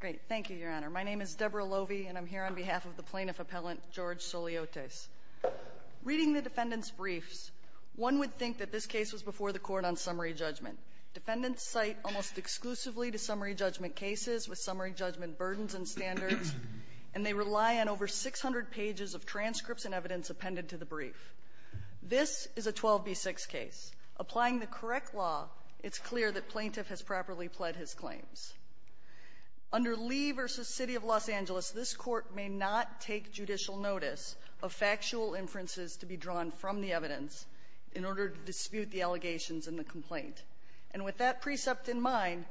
Great. Thank you, Your Honor. My name is Deborah Lovey, and I'm here on behalf of the plaintiff appellant, George Souliotes. Reading the defendant's briefs, one would think that this case was before the court on summary judgment. Defendants cite almost exclusively to summary judgment cases with summary judgment burdens and standards, and they rely on over 600 pages of transcripts and evidence appended to the brief. This is a 12B6 case. Applying the correct law, it's clear that plaintiff has properly pled his claims. Under Lee v. City of Los Angeles, this Court may not take judicial notice of factual inferences to be drawn from the evidence in order to dispute the allegations in the complaint. And with that precept in mind,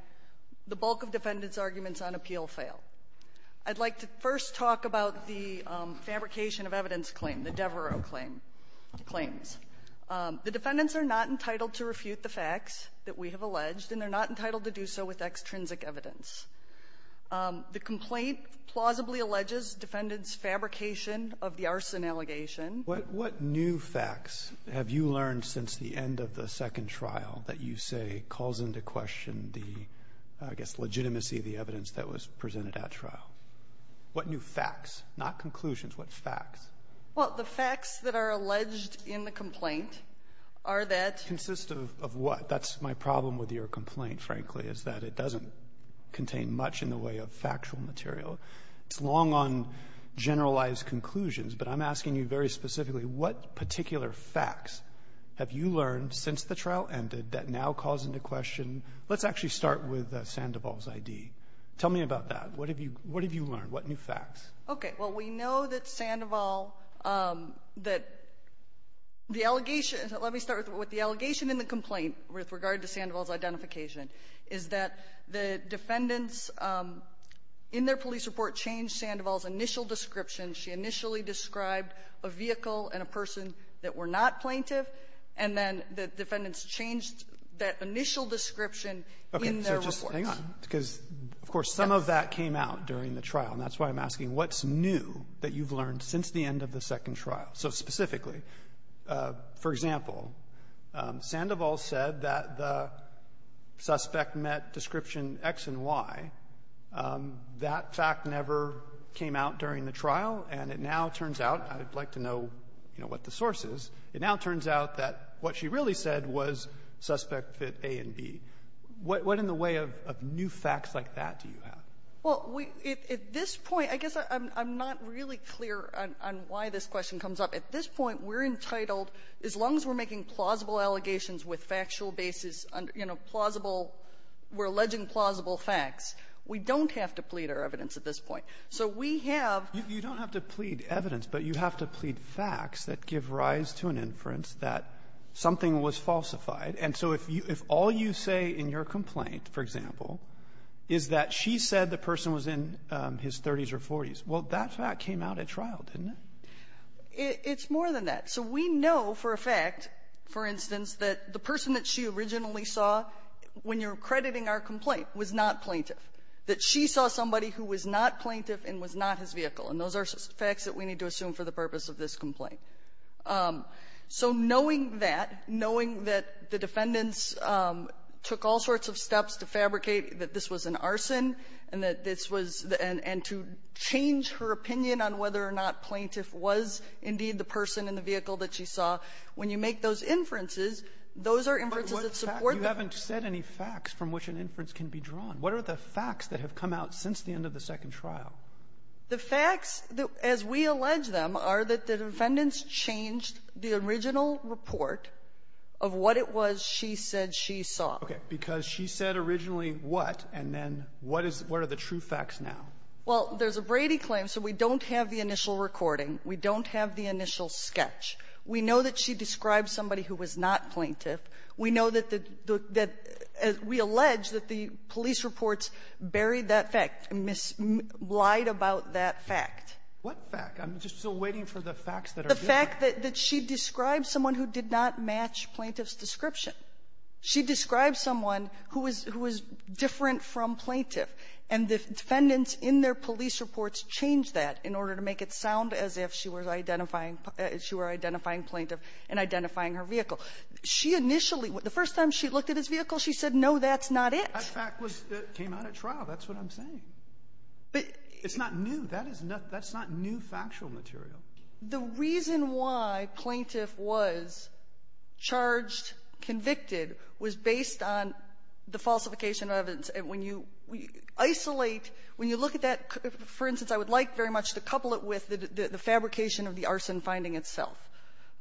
the bulk of defendants' arguments on appeal fail. I'd like to first talk about the fabrication of evidence claim, the Devereux claims. The defendants are not entitled to refute the facts that we have alleged, and they're not entitled to do so with extrinsic evidence. The complaint plausibly alleges defendants' fabrication of the arson allegation. Roberts. What new facts have you learned since the end of the second trial that you say calls into question the, I guess, legitimacy of the evidence that was presented at trial? What new facts? Not conclusions. What facts? Well, the facts that are alleged in the complaint are that ---- Consist of what? That's my problem with your complaint, frankly, is that it doesn't contain much in the way of factual material. It's long on generalized conclusions. But I'm asking you very specifically, what particular facts have you learned since the trial ended that now calls into question? Let's actually start with Sandoval's I.D. Tell me about that. What have you learned? What new facts? Okay. Well, we know that Sandoval, that the allegation ---- let me start with the allegation in the complaint with regard to Sandoval's identification, is that the defendants in their police report changed Sandoval's initial description. She initially described a vehicle and a person that were not plaintiff, and then the defendants changed that initial description in their reports. Okay. So just hang on, because, of course, some of that came out during the trial, and that's why I'm asking what's new that you've learned since the end of the second trial. So specifically, for example, Sandoval said that the suspect met description X and Y. That fact never came out during the trial, and it now turns out ---- I'd like to know, you know, what the source is. It now turns out that what she really said was suspect fit A and B. What in the way of new facts like that do you have? Well, we ---- at this point, I guess I'm not really clear on why this question comes up. At this point, we're entitled, as long as we're making plausible allegations with factual basis, you know, plausible, we're alleging plausible facts, we don't have to plead our evidence at this point. So we have ---- You don't have to plead evidence, but you have to plead facts that give rise to an inference that something was falsified. And so if you ---- if all you say in your complaint, for example, is that she said the person was in his 30s or 40s, well, that fact came out at trial, didn't it? It's more than that. So we know for a fact, for instance, that the person that she originally saw, when you're crediting our complaint, was not plaintiff, that she saw somebody who was not plaintiff and was not his vehicle. And those are facts that we need to assume for the purpose of this complaint. So knowing that, knowing that the defendants took all sorts of steps to fabricate that this was an arson and that this was the end to change her opinion on whether or not plaintiff was indeed the person in the vehicle that she saw, when you make those inferences, those are inferences that support the ---- But you haven't said any facts from which an inference can be drawn. What are the facts that have come out since the end of the second trial? The facts, as we allege them, are that the defendants changed the original report of what it was she said she saw. Okay. Because she said originally what, and then what is the true facts now? Well, there's a Brady claim, so we don't have the initial recording. We don't have the initial sketch. We know that she described somebody who was not plaintiff. We know that the ---- that we allege that the police reports buried that fact, lied about that fact. What fact? I'm just still waiting for the facts that are there. The fact that she described someone who did not match plaintiff's description. She described someone who was different from plaintiff. And the defendants in their police reports changed that in order to make it sound as if she were identifying plaintiff and identifying her vehicle. She initially, the first time she looked at his vehicle, she said, no, that's not it. That fact was ---- came out at trial. That's what I'm saying. It's not new. That is not new factual material. The reason why plaintiff was charged, convicted, was based on the falsification of evidence. And when you isolate, when you look at that, for instance, I would like very much to couple it with the fabrication of the arson finding itself,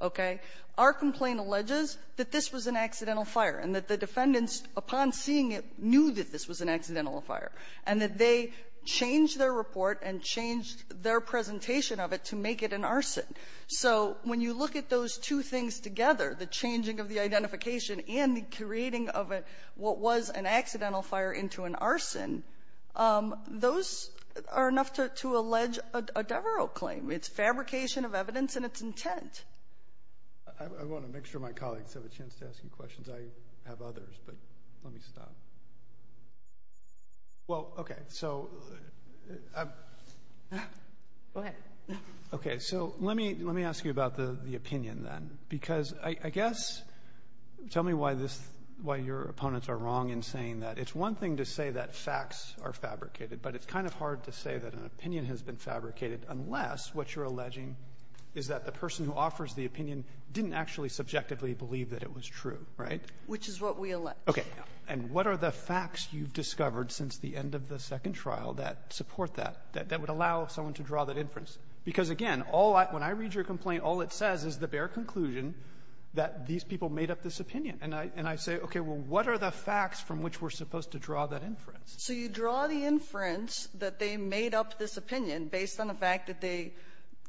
okay? Our complaint alleges that this was an accidental fire and that the defendants, upon seeing it, knew that this was an accidental fire, and that they changed their report and changed their presentation of it to make it an arson. So when you look at those two things together, the changing of the identification and the creating of what was an accidental fire into an arson, those are enough to allege a Devereux claim. It's fabrication of evidence, and it's intent. I want to make sure my colleagues have a chance to ask you questions. I have others, but let me stop. Well, okay, so I'm ---- Go ahead. Okay, so let me ask you about the opinion then, because I guess, tell me why your opponents are wrong in saying that. It's one thing to say that facts are fabricated, but it's kind of hard to say that an opinion has been fabricated unless what you're alleging is that the person who offers the opinion didn't actually subjectively believe that it was true, right? Which is what we allege. Okay. And what are the facts you've discovered since the end of the second trial that support that, that would allow someone to draw that inference? Because, again, all I ---- when I read your complaint, all it says is the bare conclusion that these people made up this opinion. And I say, okay, well, what are the facts from which we're supposed to draw that inference? So you draw the inference that they made up this opinion based on the fact that they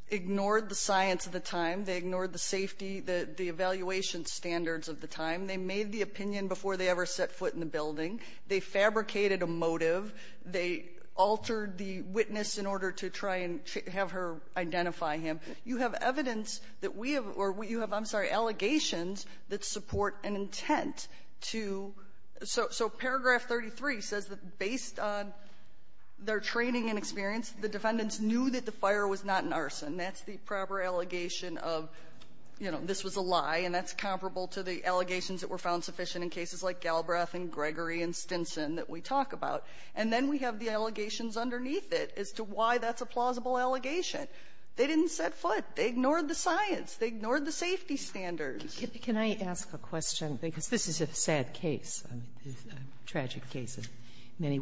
ignored the safety, the evaluation standards of the time. They made the opinion before they ever set foot in the building. They fabricated a motive. They altered the witness in order to try and have her identify him. You have evidence that we have or you have, I'm sorry, allegations that support an intent to ---- so paragraph 33 says that based on their training and experience, the defendants knew that the fire was not an arson. That's the proper allegation of, you know, this was a lie, and that's comparable to the allegations that were found sufficient in cases like Galbraith and Gregory and Stinson that we talk about. And then we have the allegations underneath it as to why that's a plausible allegation. They didn't set foot. They ignored the science. They ignored the safety standards. Sotomayor, can I ask a question? Because this is a sad case, a tragic case in many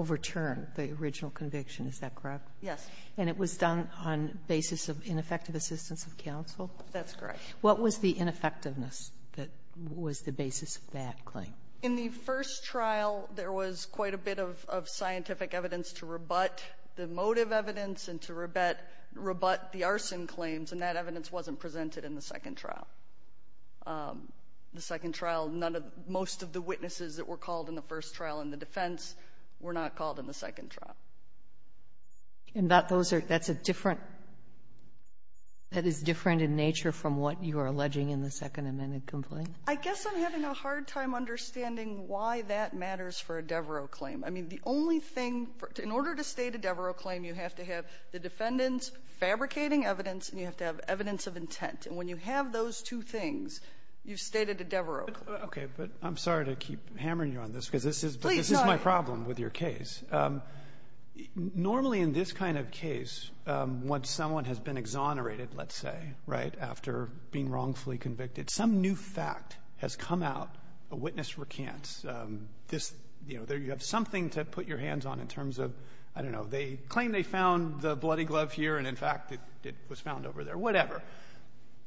original conviction, is that correct? Yes. And it was done on basis of ineffective assistance of counsel? That's correct. What was the ineffectiveness that was the basis of that claim? In the first trial, there was quite a bit of scientific evidence to rebut the motive evidence and to rebut the arson claims, and that evidence wasn't presented in the second trial. The second trial, none of the ---- most of the witnesses that were called in the first trial were not called in the second trial. And that those are ---- that's a different ---- that is different in nature from what you are alleging in the Second Amendment complaint? I guess I'm having a hard time understanding why that matters for a Devereux claim. I mean, the only thing for ---- in order to state a Devereux claim, you have to have the defendants fabricating evidence, and you have to have evidence of intent. And when you have those two things, you've stated a Devereux claim. Okay. But I'm sorry to keep hammering you on this because this is my problem. I have a problem with your case. Normally, in this kind of case, once someone has been exonerated, let's say, right, after being wrongfully convicted, some new fact has come out, a witness recants this, you know, you have something to put your hands on in terms of, I don't know, they claim they found the bloody glove here, and in fact, it was found over there, whatever.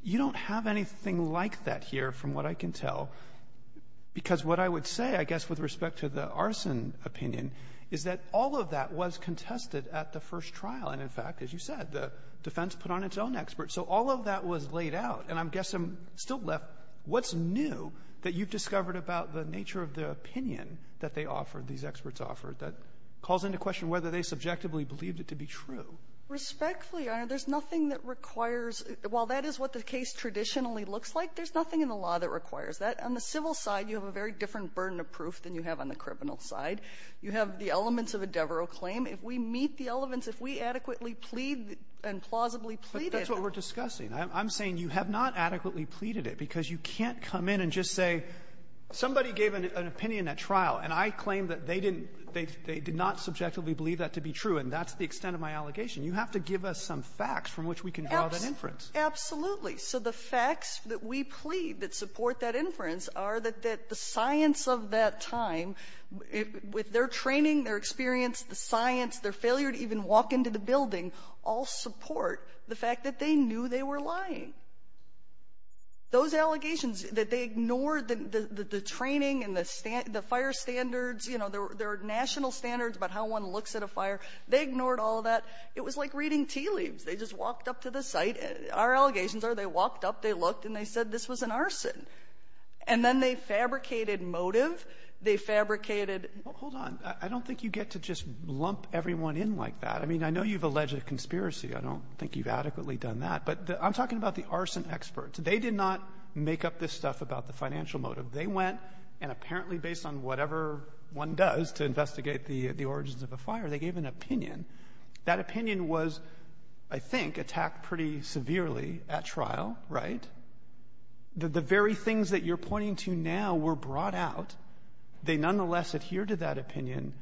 You don't have anything like that here, from what I can tell, because what I would say, I guess, with respect to the arson opinion, is that all of that was contested at the first trial. And in fact, as you said, the defense put on its own experts. So all of that was laid out. And I'm guessing, still left, what's new that you've discovered about the nature of the opinion that they offered, these experts offered, that calls into question whether they subjectively believed it to be true? Respectfully, Your Honor, there's nothing that requires ---- while that is what the case traditionally looks like, there's nothing in the law that requires that. On the civil side, you have a very different burden of proof than you have on the criminal side. You have the elements of a Devereux claim. If we meet the elements, if we adequately plead and plausibly plead it ---- Roberts But that's what we're discussing. I'm saying you have not adequately pleaded it, because you can't come in and just say somebody gave an opinion at trial, and I claim that they didn't they did not subjectively believe that to be true, and that's the extent of my allegation. You have to give us some facts from which we can draw that inference. Absolutely. So the facts that we plead that support that inference are that the science of that time, with their training, their experience, the science, their failure to even walk into the building, all support the fact that they knew they were lying. Those allegations that they ignored the training and the fire standards, you know, their national standards about how one looks at a fire, they ignored all that. It was like reading tea leaves. They just walked up to the site. Our allegations are they walked up, they looked, and they said this was an arson. And then they fabricated motive. They fabricated ---- Roberts Hold on. I don't think you get to just lump everyone in like that. I mean, I know you've alleged a conspiracy. I don't think you've adequately done that. But I'm talking about the arson experts. They did not make up this stuff about the financial motive. They went, and apparently based on whatever one does to investigate the origins of a fire, they gave an opinion. That opinion was, I think, attacked pretty severely at trial, right? The very things that you're pointing to now were brought out. They nonetheless adhered to that opinion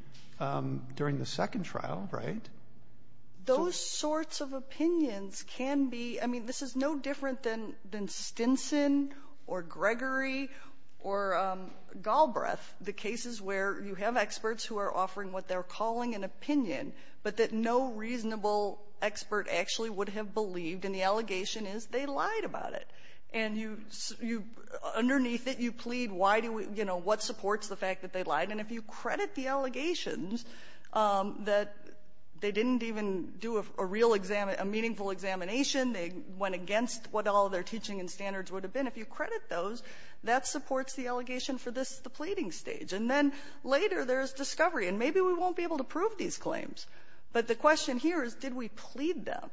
during the second trial, right? So ---- Sotomayor, those sorts of opinions can be ---- I mean, this is no different than Stinson or Gregory or Galbraith, the cases where you have experts who are offering what they're calling an opinion. But that no reasonable expert actually would have believed. And the allegation is they lied about it. And you ---- you ---- underneath it, you plead, why do we ---- you know, what supports the fact that they lied. And if you credit the allegations that they didn't even do a real exam ---- a meaningful examination, they went against what all their teaching and standards would have been, if you credit those, that supports the allegation for this, the pleading stage. And then later, there's discovery. And maybe we won't be able to prove these claims. But the question here is, did we plead them?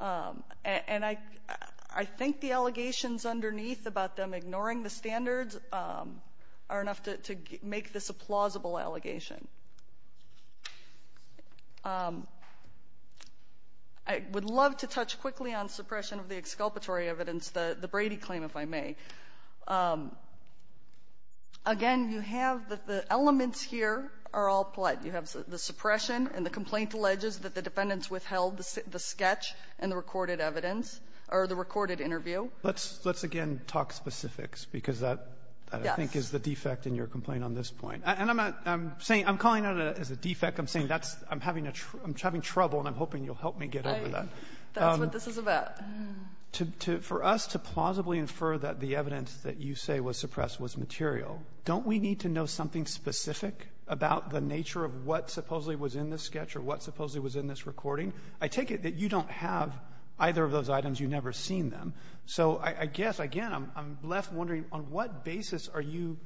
And I ---- I think the allegations underneath about them ignoring the standards are enough to make this a plausible allegation. I would love to touch quickly on suppression of the exculpatory evidence, the Brady claim, if I may. Again, you have the elements here are all polite. You have the suppression and the complaint alleges that the defendants withheld the sketch and the recorded evidence or the recorded interview. Roberts. Let's again talk specifics, because that, I think, is the defect in your complaint on this point. And I'm not ---- I'm saying ---- I'm calling it as a defect. I'm saying that's ---- I'm having a ---- I'm having trouble, and I'm hoping you'll help me get over that. That's what this is about. To ---- for us to plausibly infer that the evidence that you say was suppressed was material, don't we need to know something specific about the nature of what supposedly was in this sketch or what supposedly was in this recording? I take it that you don't have either of those items. You've never seen them. So I guess, again, I'm left wondering, on what basis are you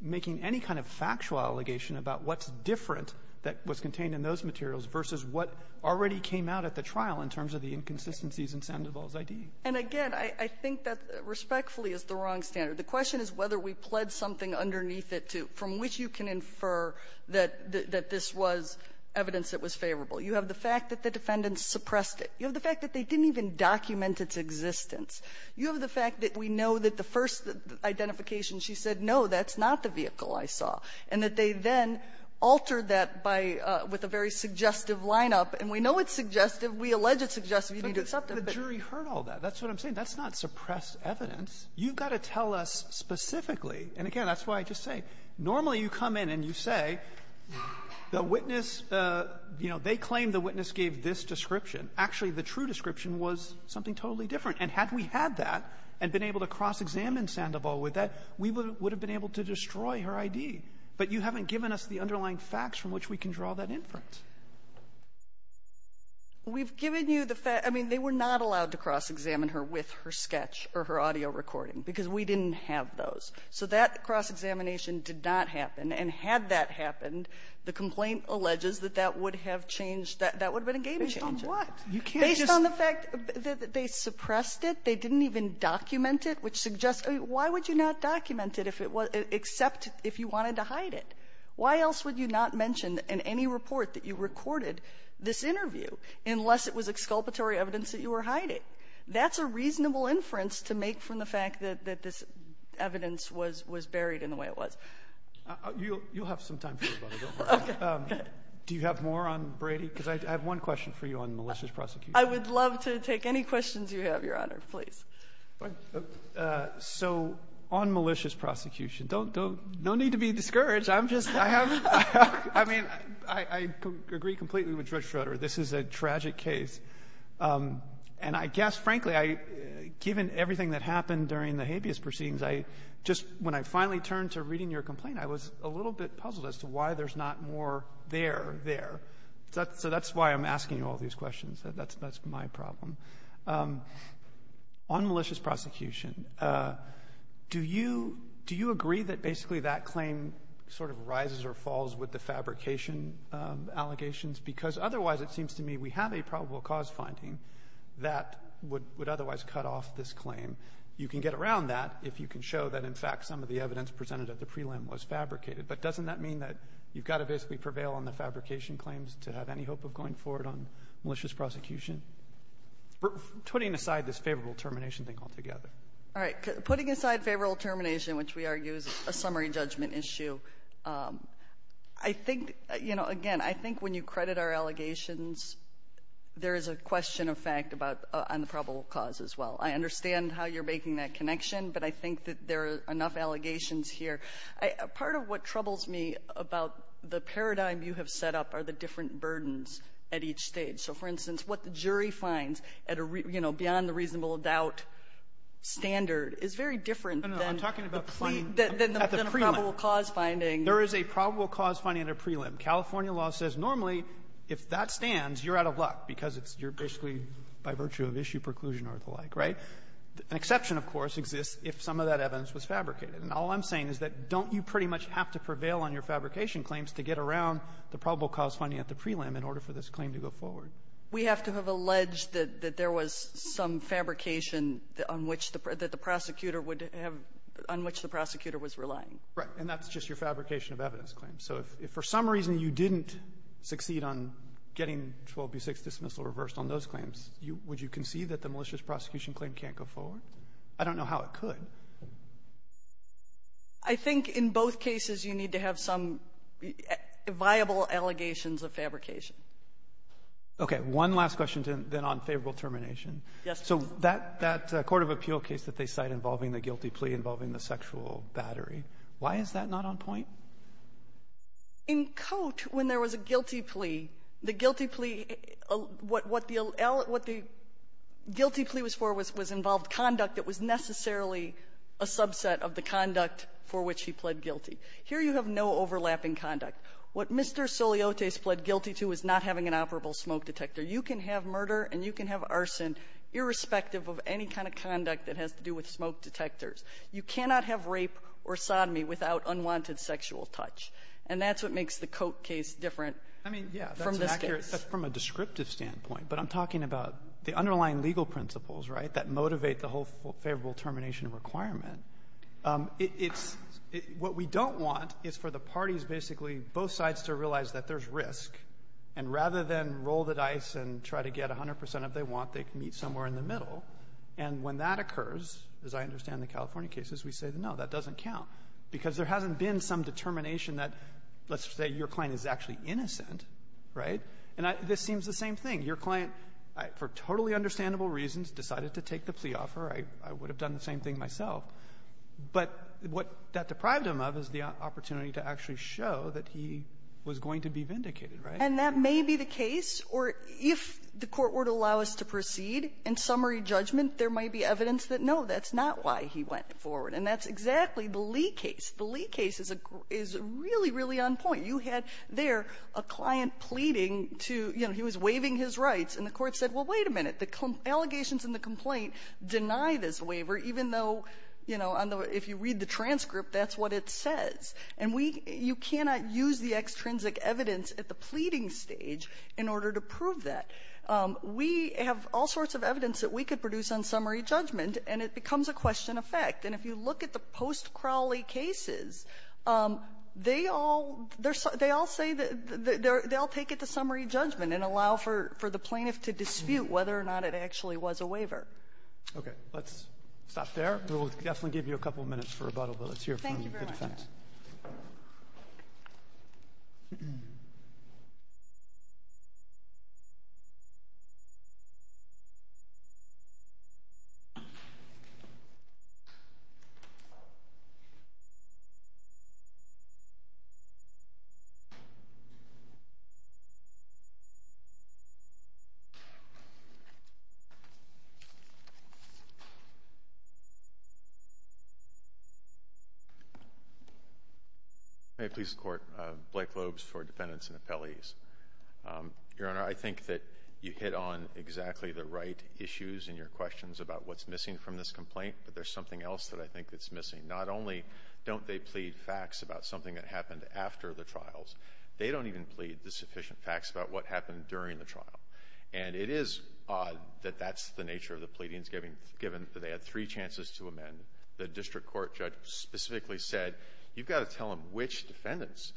making any kind of factual allegation about what's different that was contained in those materials versus what already came out at the trial in terms of the inconsistencies in Sandoval's I.D.? And, again, I think that respectfully is the wrong standard. The question is whether we pled something underneath it to ---- from which you can infer that this was evidence that was favorable. You have the fact that the defendant suppressed it. You have the fact that they didn't even document its existence. You have the fact that we know that the first identification, she said, no, that's not the vehicle I saw, and that they then altered that by ---- with a very suggestive line-up. And we know it's suggestive. We allege it's suggestive. You need to accept it. But the jury heard all that. That's what I'm saying. That's not suppressed evidence. You've got to tell us specifically. And, again, that's why I just say, normally you come in and you say, the witness ---- you know, they claim the witness gave this description. Actually, the true description was something totally different. And had we had that and been able to cross-examine Sandoval with that, we would have been able to destroy her I.D. But you haven't given us the underlying facts from which we can draw that inference. We've given you the fact ---- I mean, they were not allowed to cross-examine her with her sketch or her audio recording because we didn't have those. So that cross-examination did not happen. And had that happened, the complaint alleges that that would have changed that. That would have been a game-changer. Sotomayor, you can't just ---- Based on the fact that they suppressed it, they didn't even document it, which suggests ---- I mean, why would you not document it if it was ---- except if you wanted to hide it? Why else would you not mention in any report that you recorded this interview unless it was exculpatory evidence that you were hiding? That's a reasonable inference to make from the fact that this evidence was buried in the way it was. You'll have some time for me, but don't worry. Okay. Do you have more on Brady? Because I have one question for you on malicious prosecution. I would love to take any questions you have, Your Honor. Please. So on malicious prosecution, don't ---- no need to be discouraged. I'm just ---- I have ---- I mean, I agree completely with Judge Schroeder. This is a tragic case. And I guess, frankly, I ---- given everything that happened during the habeas proceedings, I just ---- when I finally turned to reading your complaint, I was a little bit puzzled as to why there's not more there, there. So that's why I'm asking you all these questions. That's my problem. On malicious prosecution, do you ---- do you agree that basically that claim sort of rises or falls with the fabrication allegations? Because otherwise, it seems to me we have a probable cause finding that would otherwise cut off this claim. You can get around that if you can show that, in fact, some of the evidence presented at the prelim was fabricated. But doesn't that mean that you've got to basically prevail on the fabrication claims to have any hope of going forward on malicious prosecution? Putting aside this favorable termination thing altogether. All right. Putting aside favorable termination, which we argue is a summary judgment issue, I think, you know, again, I think when you credit our allegations, there is a question of fact about ---- on the probable cause as well. I understand how you're making that connection, but I think that there are enough allegations here. Part of what troubles me about the paradigm you have set up are the different burdens at each stage. So, for instance, what the jury finds at a, you know, beyond the reasonable doubt standard is very different than the pre ---- than the probable cause finding. There is a probable cause finding at a prelim. California law says normally if that stands, you're out of luck because it's you're basically by virtue of issue preclusion or the like, right? An exception, of course, exists if some of that evidence was fabricated. And all I'm saying is that don't you pretty much have to prevail on your fabrication claims to get around the probable cause finding at the prelim in order for this claim to go forward? We have to have alleged that there was some fabrication on which the ---- that the prosecutor would have ---- on which the prosecutor was relying. Right. And that's just your fabrication of evidence claims. So if for some reason you didn't succeed on getting 12b6 dismissal reversed on those claims, you ---- would you concede that the malicious prosecution claim can't go forward? I don't know how it could. I think in both cases you need to have some viable allegations of fabrication. Okay. One last question, then, on favorable termination. Yes. So that ---- that court of appeal case that they cite involving the guilty plea involving the sexual battery, why is that not on point? In Cote, when there was a guilty plea, the guilty plea ---- what the guilty plea was for was involved conduct that was necessarily a subset of the conduct for which he pled guilty. Here you have no overlapping conduct. What Mr. Soliotis pled guilty to is not having an operable smoke detector. You can have murder and you can have arson irrespective of any kind of conduct that has to do with smoke detectors. You cannot have rape or sodomy without unwanted sexual touch. And that's what makes the Cote case different from this case. I mean, yes, that's an accurate ---- that's from a descriptive standpoint. But I'm talking about the underlying legal principles, right, that motivate the whole favorable termination requirement. It's ---- what we don't want is for the parties basically, both sides, to realize that there's risk, and rather than roll the dice and try to get 100 percent if they want, they meet somewhere in the middle. And when that occurs, as I understand the California cases, we say, no, that doesn't count, because there hasn't been some determination that, let's say, your client is actually innocent, right? And this seems the same thing. Your client, for totally understandable reasons, decided to take the plea offer. I would have done the same thing myself. But what that deprived him of is the opportunity to actually show that he was going to be vindicated, right? And that may be the case, or if the court were to allow us to proceed in summary judgment, there might be evidence that, no, that's not why he went forward. And that's exactly the Lee case. The Lee case is really, really on point. You had there a client pleading to, you know, he was waiving his rights. And the Court said, well, wait a minute. The allegations in the complaint deny this waiver, even though, you know, if you read the transcript, that's what it says. And we can't use the extrinsic evidence at the pleading stage in order to prove that. We have all sorts of evidence that we could produce on summary judgment, and it becomes a question of fact. And if you look at the post-Crawley cases, they all say that they'll take it to summary judgment and allow for the plaintiff to dispute whether or not it actually was a waiver. Roberts. Okay. Let's stop there. We'll definitely give you a couple minutes for rebuttal, but let's hear from the defense. May it please the Court. Blake Loebs for defendants and appellees. Your Honor, I think that you hit on exactly the right issues in your questions about what's missing from this complaint, but there's something else that I think that's missing. Not only don't they plead facts about something that happened after the trials, they don't even plead the sufficient facts about what happened during the trial. And it is odd that that's the nature of the pleadings, given that they had three chances to amend. The district court judge specifically said, you've got to tell them which defendants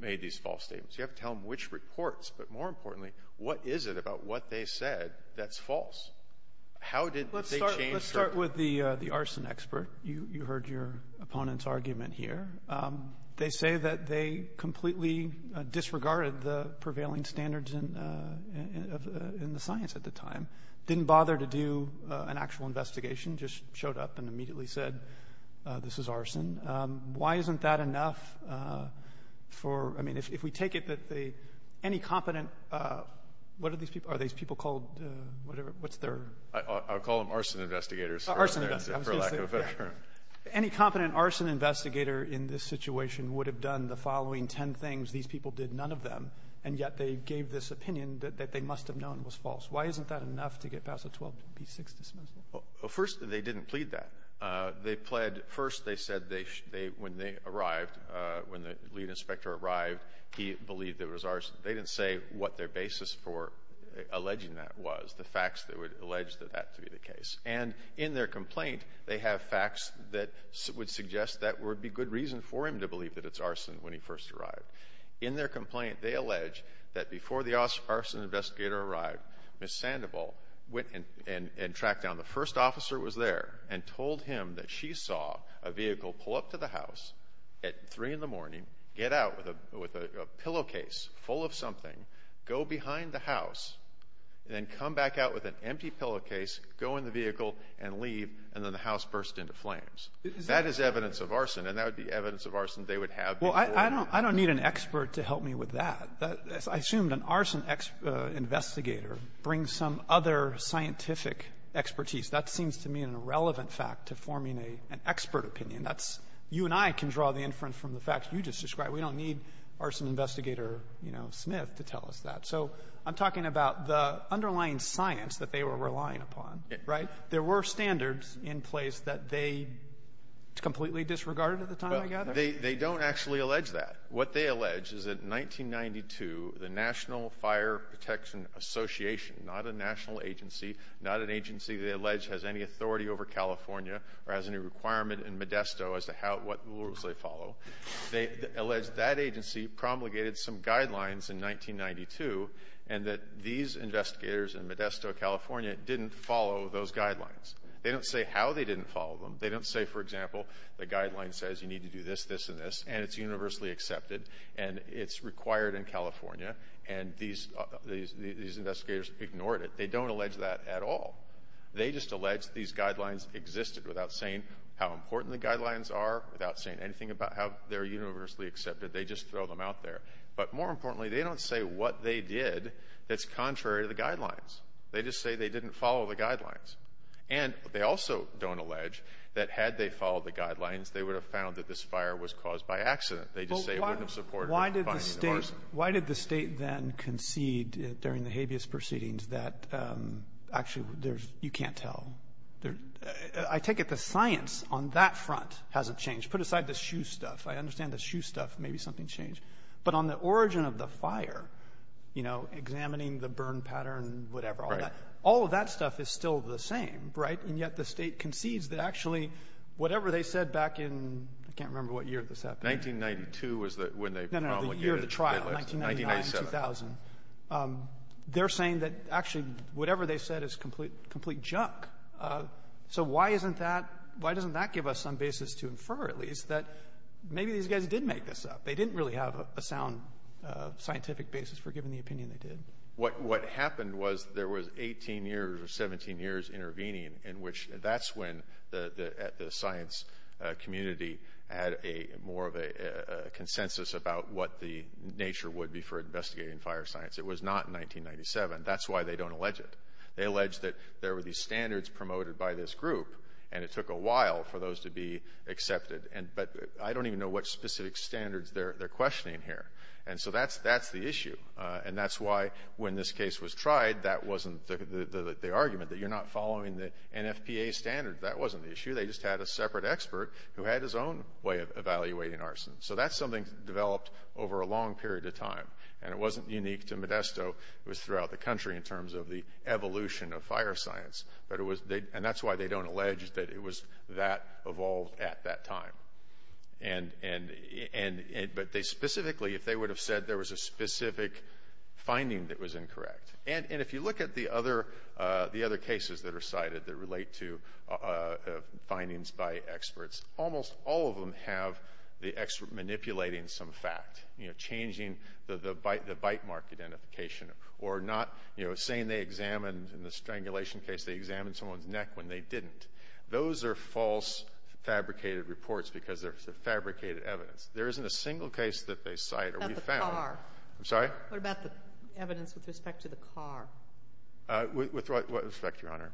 made these false statements. You have to tell them which reports. But more importantly, what is it about what they said that's false? How did they change their ---- Let's start with the arson expert. You heard your opponent's argument here. They say that they completely disregarded the prevailing standards in the science at the time. Didn't bother to do an actual investigation. Just showed up and immediately said, this is arson. Why isn't that enough for ---- I mean, if we take it that they ---- any competent ---- what are these people? Are these people called whatever? What's their ---- I would call them arson investigators. Arson investigators. For lack of a better term. Any competent arson investigator in this situation would have done the following ten things. These people did none of them, and yet they gave this opinion that they must have known was false. Why isn't that enough to get past the 12B6 dismissal? Well, first, they didn't plead that. They pled ---- first, they said they ---- they ---- when they arrived, when the lead inspector arrived, he believed there was arson. They didn't say what their basis for alleging that was, the facts that would allege that that to be the case. And in their complaint, they have facts that would suggest that would be good reason for him to believe that it's arson when he first arrived. In their complaint, they allege that before the arson investigator arrived, Ms. Sandoval went and tracked down the first officer who was there and told him that she saw a vehicle pull up to the house at 3 in the morning, get out with a pillowcase full of something, go behind the house, and then come back out with an empty pillowcase, go in the vehicle, and leave, and then the house burst into flames. That is evidence of arson, and that would be evidence of arson they would have before ---- Well, I don't need an expert to help me with that. I assumed an arson investigator brings some other scientific expertise. That seems to me an irrelevant fact to forming an expert opinion. That's you and I can draw the inference from the facts you just described. We don't need arson investigator, you know, Smith, to tell us that. So I'm talking about the underlying science that they were relying upon, right? There were standards in place that they completely disregarded at the time, I gather? Well, they don't actually allege that. What they allege is that in 1992, the National Fire Protection Association, not a national agency, not an agency they allege has any authority over California or has any requirement in Modesto as to what rules they follow, they allege that agency promulgated some guidelines in 1992, and that these investigators in Modesto, California, didn't follow those guidelines. They don't say how they didn't follow them. They don't say, for example, the guideline says you need to do this, this, and this, and it's universally accepted, and it's required in California, and these investigators ignored it. They don't allege that at all. They just allege these guidelines existed without saying how important the guidelines are, without saying anything about how they're universally accepted. They just throw them out there. But more importantly, they don't say what they did that's contrary to the guidelines. They just say they didn't follow the guidelines. And they also don't allege that had they followed the guidelines, they would have found that this fire was caused by accident. They just say it wouldn't have supported the finding of arsenic. Why did the State then concede during the habeas proceedings that actually there's you can't tell? I take it the science on that front hasn't changed. Put aside the shoe stuff. I understand the shoe stuff, maybe something's changed. But on the origin of the fire, you know, examining the burn pattern, whatever, all of that, all of that stuff is still the same, right? And yet the State concedes that actually whatever they said back in, I can't remember what year this happened. 1992 was when they promulgated it. No, no. The year of the trial. 1999, 2000. 1997. They're saying that actually whatever they said is complete junk. So why isn't that, why doesn't that give us some basis to infer, at least, that maybe these guys did make this up? They didn't really have a sound scientific basis for giving the opinion they did. What happened was there was 18 years or 17 years intervening in which that's when the science community had a more of a consensus about what the nature would be for investigating fire science. It was not in 1997. That's why they don't allege it. They allege that there were these standards promoted by this group, and it took a while for those to be accepted. But I don't even know what specific standards they're questioning here. And so that's the issue. And that's why when this case was tried, that wasn't the argument, that you're not following the NFPA standards. That wasn't the issue. They just had a separate expert who had his own way of evaluating arson. So that's something developed over a long period of time, and it wasn't unique to Modesto. It was throughout the country in terms of the evolution of fire science. And that's why they don't allege that it was that evolved at that time. But they specifically, if they would have said there was a specific finding that was incorrect. And if you look at the other cases that are cited that relate to findings by experts, almost all of them have the expert manipulating some fact, you know, changing the bite mark identification, or not, you know, saying they examined in the strangulation case, they examined someone's neck when they didn't. Those are false fabricated reports because they're fabricated evidence. There isn't a single case that they cite or we've found. About the car. I'm sorry? What about the evidence with respect to the car? With what respect, Your Honor?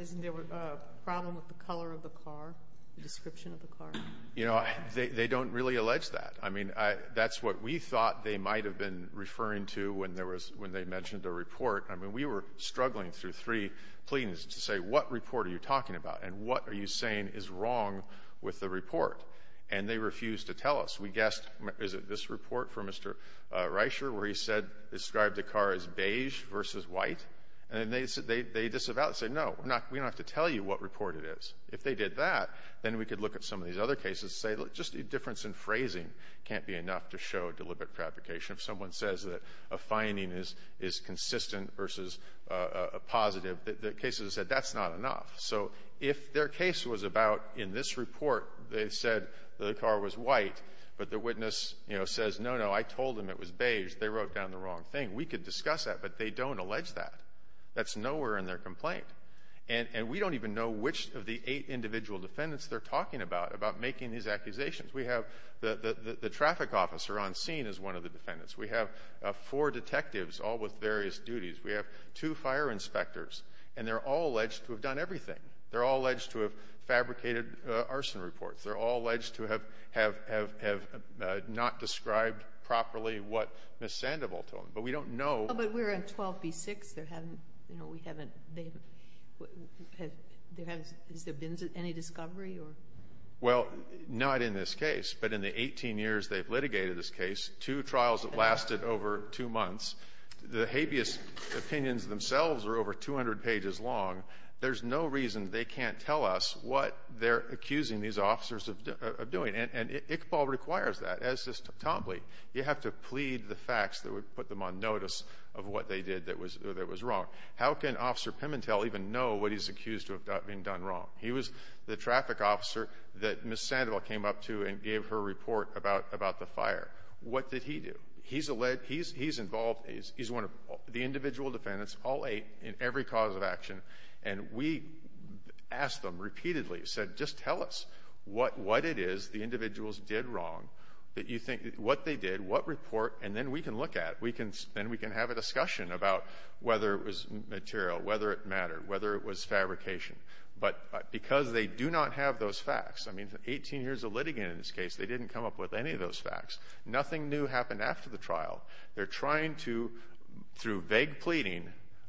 Isn't there a problem with the color of the car, the description of the car? You know, they don't really allege that. I mean, that's what we thought they might have been referring to when they mentioned a report. I mean, we were struggling through three pleadings to say, what report are you talking about? And what are you saying is wrong with the report? And they refused to tell us. We guessed, is it this report from Mr. Reicher where he said, described the car as beige versus white? And they said, they disavowed, said, no, we're not, we don't have to tell you what report it is. If they did that, then we could look at some of these other cases, say, look, just a difference in phrasing can't be enough to show deliberate fabrication. If someone says that a finding is consistent versus positive, the cases have said that's not enough. So if their case was about, in this report, they said the car was white, but the witness, you know, says, no, no, I told them it was beige, they wrote down the wrong thing. We could discuss that, but they don't allege that. That's nowhere in their complaint. And we don't even know which of the eight individual defendants they're talking about, about making these accusations. We have the traffic officer on scene as one of the defendants. We have four detectives, all with various duties. We have two fire inspectors, and they're all alleged to have done everything. They're all alleged to have fabricated arson reports. They're all alleged to have not described properly what Ms. Sandoval told them. But we don't know. But we're on 12b-6. There haven't, you know, we haven't, they haven't, there haven't, has there been any discovery or? Well, not in this case. But in the 18 years they've litigated this case, two trials have lasted over two months. The habeas opinions themselves are over 200 pages long. There's no reason they can't tell us what they're accusing these officers of doing. And Iqbal requires that, as does Tombly. You have to plead the facts that would put them on notice of what they did that was wrong. How can Officer Pimentel even know what he's accused of being done wrong? He was the traffic officer that Ms. Sandoval came up to and gave her report about the fire. What did he do? He's a lead, he's involved, he's one of the individual defendants, all eight, in every cause of action. And we asked them repeatedly, said, just tell us what it is the individuals did wrong that you think, what they did, what report, and then we can look at, we can, then we can have a discussion about whether it was material, whether it mattered, whether it was fabrication. But because they do not have those facts, I mean, 18 years of litigant in this case, they didn't come up with any of those facts. Nothing new happened after the trial. They're trying to, through vague pleading,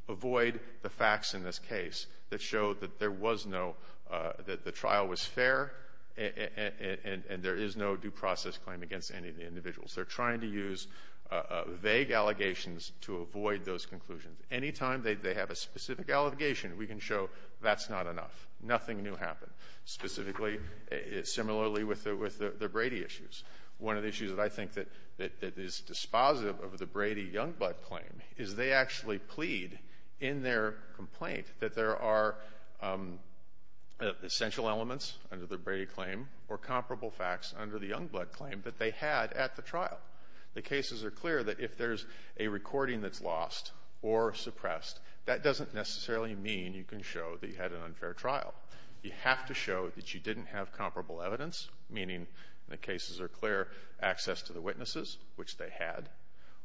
avoid the facts in this case that showed that there was no, that the trial was fair and there is no due process claim against any of the individuals. They're trying to use vague allegations to avoid those conclusions. Any time they have a specific allegation, we can show that's not enough. Nothing new happened, specifically, similarly with the Brady issues. One of the issues that I think that is dispositive of the Brady-Youngblood claim is they actually plead in their complaint that there are essential elements under the Brady claim or comparable facts under the Youngblood claim that they had at the trial. The cases are clear that if there's a recording that's lost or suppressed, that doesn't necessarily mean you can show that you had an unfair trial. You have to show that you didn't have comparable evidence, meaning the cases are clear, access to the witnesses, which they had,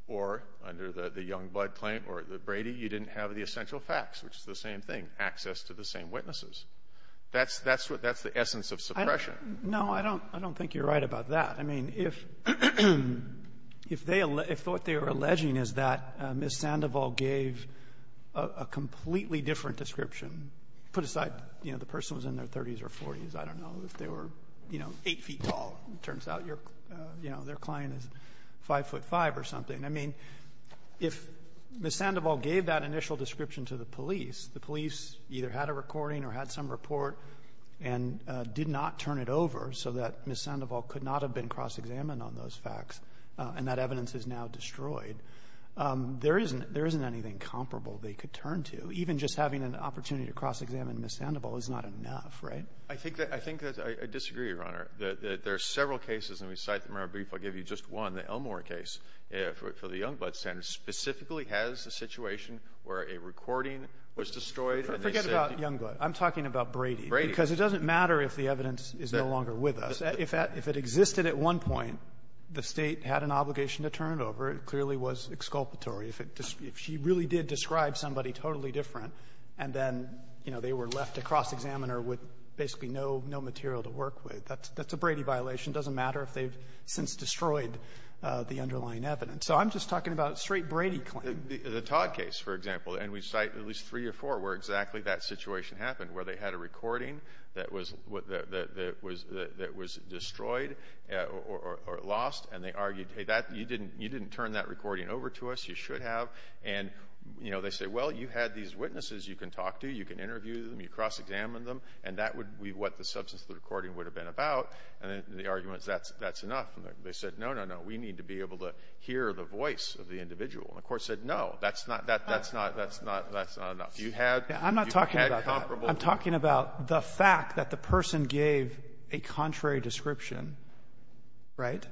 or under the Youngblood claim or the Brady, you didn't have the essential facts, which is the same thing, access to the same witnesses. That's the essence of suppression. No, I don't think you're right about that. I mean, if they thought they were alleging is that Ms. Sandoval gave a completely different description, put aside, you know, the person was in their 30s or 40s, I don't know, if they were, you know, 8 feet tall, turns out, you know, their client is 5'5'' or something. I mean, if Ms. Sandoval gave that initial description to the police, the police either had a recording or had some report, and did not turn it over so that Ms. Sandoval could not have been cross-examined on those facts, and that evidence is now destroyed, there isn't anything comparable they could turn to. Even just having an opportunity to cross-examine Ms. Sandoval is not enough, right? I think that I disagree, Your Honor, that there are several cases, and we cite them in our brief, I'll give you just one. The Elmore case for the Youngblood standard specifically has a situation where a recording was destroyed, and they said you need to cross-examine. Breyer. Because it doesn't matter if the evidence is no longer with us. If it existed at one point, the State had an obligation to turn it over. It clearly was exculpatory. If she really did describe somebody totally different, and then, you know, they were left to cross-examine her with basically no material to work with, that's a Brady violation. It doesn't matter if they've since destroyed the underlying evidence. So I'm just talking about a straight Brady claim. The Todd case, for example, and we cite at least three or four where exactly that situation happened, where they had a recording that was destroyed or lost, and they argued, hey, you didn't turn that recording over to us. You should have. And, you know, they say, well, you had these witnesses you can talk to, you can interview them, you cross-examine them, and that would be what the substance of the recording would have been about. And the argument is that's enough. They said, no, no, no, we need to be able to hear the voice of the individual. And the Court said, no, that's not that's not that's not that's not enough. You had you had comparable. I'm talking about the fact that the person gave a contrary description, right?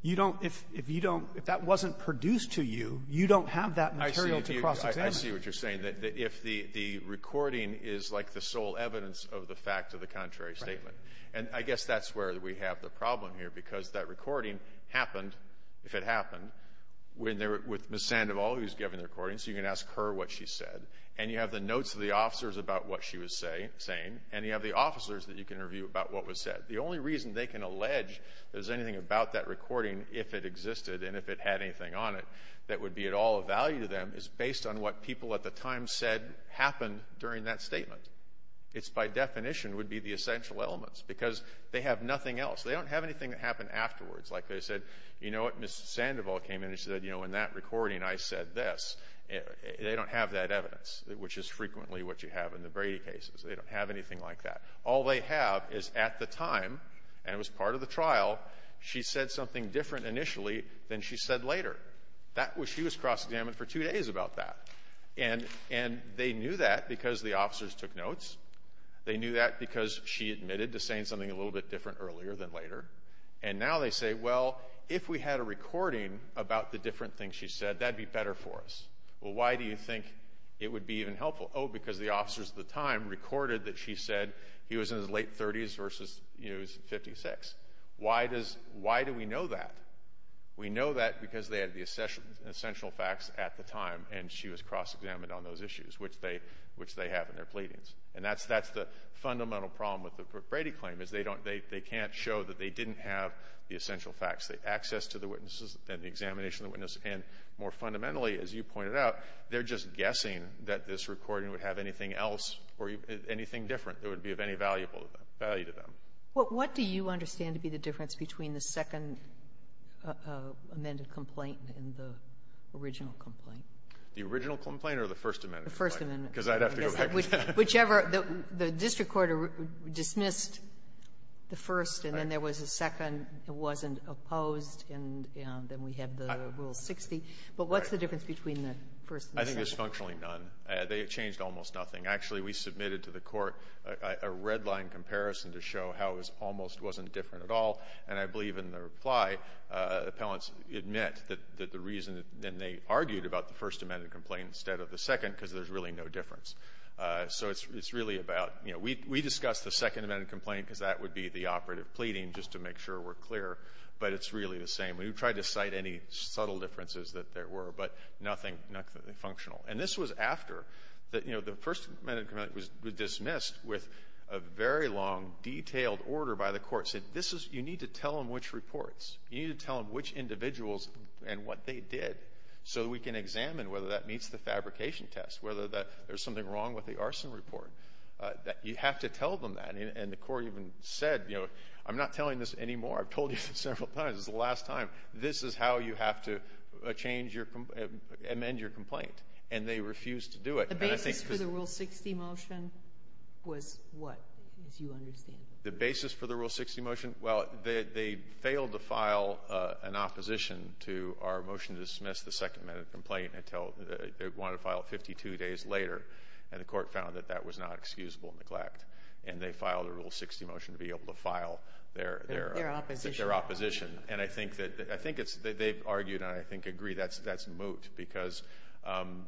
You don't, if you don't, if that wasn't produced to you, you don't have that material to cross-examine. I see what you're saying, that if the recording is like the sole evidence of the fact of the contrary statement. And I guess that's where we have the problem here, because that recording happened, if it happened, with Ms. Sandoval, who's giving the recording, so you can ask her what she said. And you have the notes of the officers about what she was saying, and you have the officers that you can interview about what was said. The only reason they can allege there's anything about that recording, if it existed and if it had anything on it, that would be at all of value to them is based on what people at the time said happened during that statement. It's by definition would be the essential elements, because they have nothing else. They don't have anything that happened afterwards. Like they said, you know what, Ms. Sandoval came in and said, you know, in that recording I said this. They don't have that evidence, which is frequently what you have in the Brady cases. They don't have anything like that. All they have is at the time, and it was part of the trial, she said something different initially than she said later. That was, she was cross-examined for two days about that. And they knew that because the officers took notes. They knew that because she admitted to saying something a little bit different earlier than later. And now they say, well, if we had a recording about the different things she said, that'd be better for us. Well, why do you think it would be even helpful? Oh, because the officers at the time recorded that she said he was in his late 30s versus he was 56. Why does, why do we know that? We know that because they had the essential facts at the time, and she was cross-examined on those issues, which they have in their pleadings. And that's the fundamental problem with the Brady claim, is they don't, they can't show that they didn't have the essential facts. The access to the witnesses and the examination of the witness, and more fundamentally, as you pointed out, they're just guessing that this recording would have anything else or anything different that would be of any valuable value to them. Well, what do you understand to be the difference between the second amended complaint and the original complaint? The original complaint or the First Amendment? The First Amendment. Because I'd have to go back and check. Whichever, the district court dismissed the first, and then there was a second that wasn't opposed, and then we had the Rule 60. But what's the difference between the first and the second? I think there's functionally none. They changed almost nothing. Actually, we submitted to the Court a red-line comparison to show how it was almost wasn't different at all. And I believe in the reply, the appellants admit that the reason, and they argued about the First Amendment complaint instead of the second, because there's really no difference. So it's really about, you know, we discussed the second amended complaint because that would be the operative pleading, just to make sure we're clear. But it's really the same. We tried to cite any subtle differences that there were, but nothing functional. And this was after that, you know, the First Amendment complaint was dismissed with a very long, detailed order by the court saying, you need to tell them which reports, you need to tell them which individuals and what they did, so we can There's something wrong with the arson report. You have to tell them that. And the court even said, you know, I'm not telling this anymore. I've told you this several times. This is the last time. This is how you have to amend your complaint. And they refused to do it. The basis for the Rule 60 motion was what, as you understand? The basis for the Rule 60 motion? Well, they failed to file an opposition to our motion to dismiss the second amendment complaint until they wanted to file it 52 days later, and the court found that that was not excusable neglect. And they filed a Rule 60 motion to be able to file their opposition. And I think that they've argued, and I think agree, that's moot, because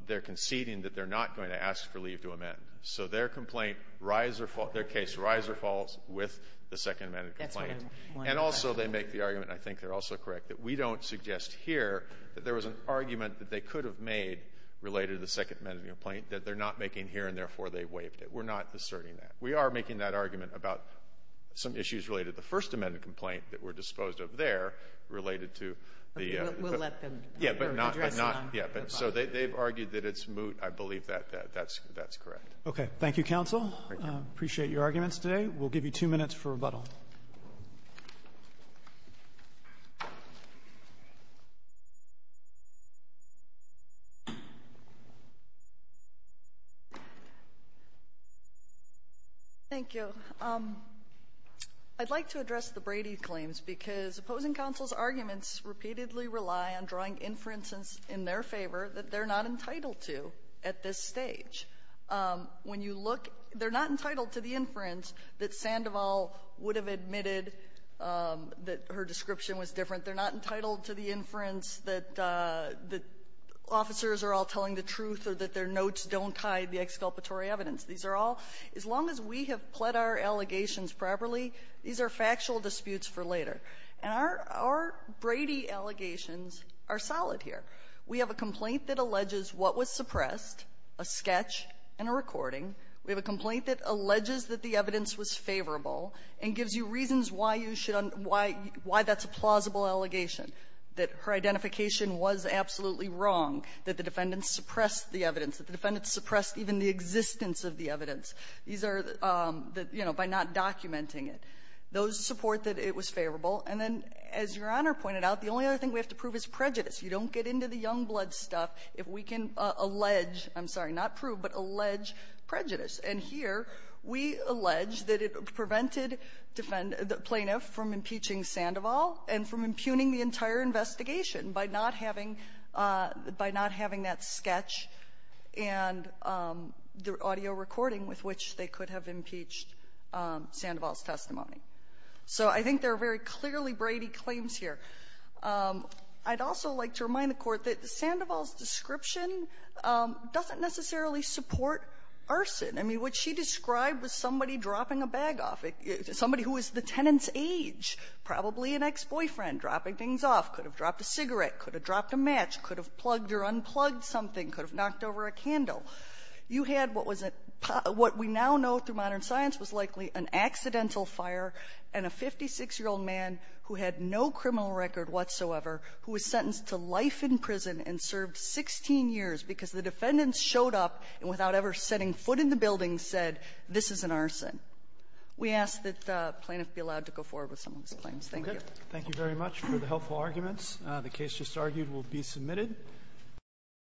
they're conceding that they're not going to ask for leave to amend. So their complaint, their case, rise or falls with the second amendment complaint. And also, they make the argument, and I think they're also correct, that we don't suggest here that there was an argument that they could have made related to the second amendment complaint that they're not making here, and therefore, they waived it. We're not asserting that. We are making that argument about some issues related to the first amendment complaint that were disposed of there related to the other. We'll let them address that. Yeah. But so they've argued that it's moot. I believe that that's correct. Thank you, counsel. I appreciate your arguments today. We'll give you two minutes for rebuttal. Thank you. I'd like to address the Brady claims, because opposing counsel's arguments repeatedly rely on drawing inferences in their favor that they're not entitled to at this stage. When you look, they're not entitled to the inference that Sandoval would have made that her description was different. They're not entitled to the inference that the officers are all telling the truth or that their notes don't hide the exculpatory evidence. These are all, as long as we have pled our allegations properly, these are factual disputes for later. And our Brady allegations are solid here. We have a complaint that alleges what was suppressed, a sketch and a recording. We have a complaint that alleges that the evidence was favorable and gives you reasons why you should un ‑‑ why that's a plausible allegation, that her identification was absolutely wrong, that the defendants suppressed the evidence, that the defendants suppressed even the existence of the evidence. These are, you know, by not documenting it. Those support that it was favorable. And then, as Your Honor pointed out, the only other thing we have to prove is prejudice. You don't get into the Youngblood stuff if we can allege ‑‑ I'm sorry, not prove, but allege prejudice. And here, we allege that it prevented defendant ‑‑ plaintiff from impeaching Sandoval and from impugning the entire investigation by not having ‑‑ by not having that sketch and the audio recording with which they could have impeached Sandoval's testimony. So I think there are very clearly Brady claims here. I'd also like to remind the Court that Sandoval's description doesn't necessarily support arson. I mean, what she described was somebody dropping a bag off. Somebody who was the tenant's age, probably an ex-boyfriend, dropping things off. Could have dropped a cigarette. Could have dropped a match. Could have plugged or unplugged something. Could have knocked over a candle. You had what was a ‑‑ what we now know through modern science was likely an accidental fire and a 56-year-old man who had no criminal record whatsoever who was sentenced to life in prison and served 16 years because the defendants showed up and without ever setting foot in the building said, this is an arson. We ask that the plaintiff be allowed to go forward with some of these claims. Thank you. Thank you very much for the helpful arguments. The case just argued will be submitted.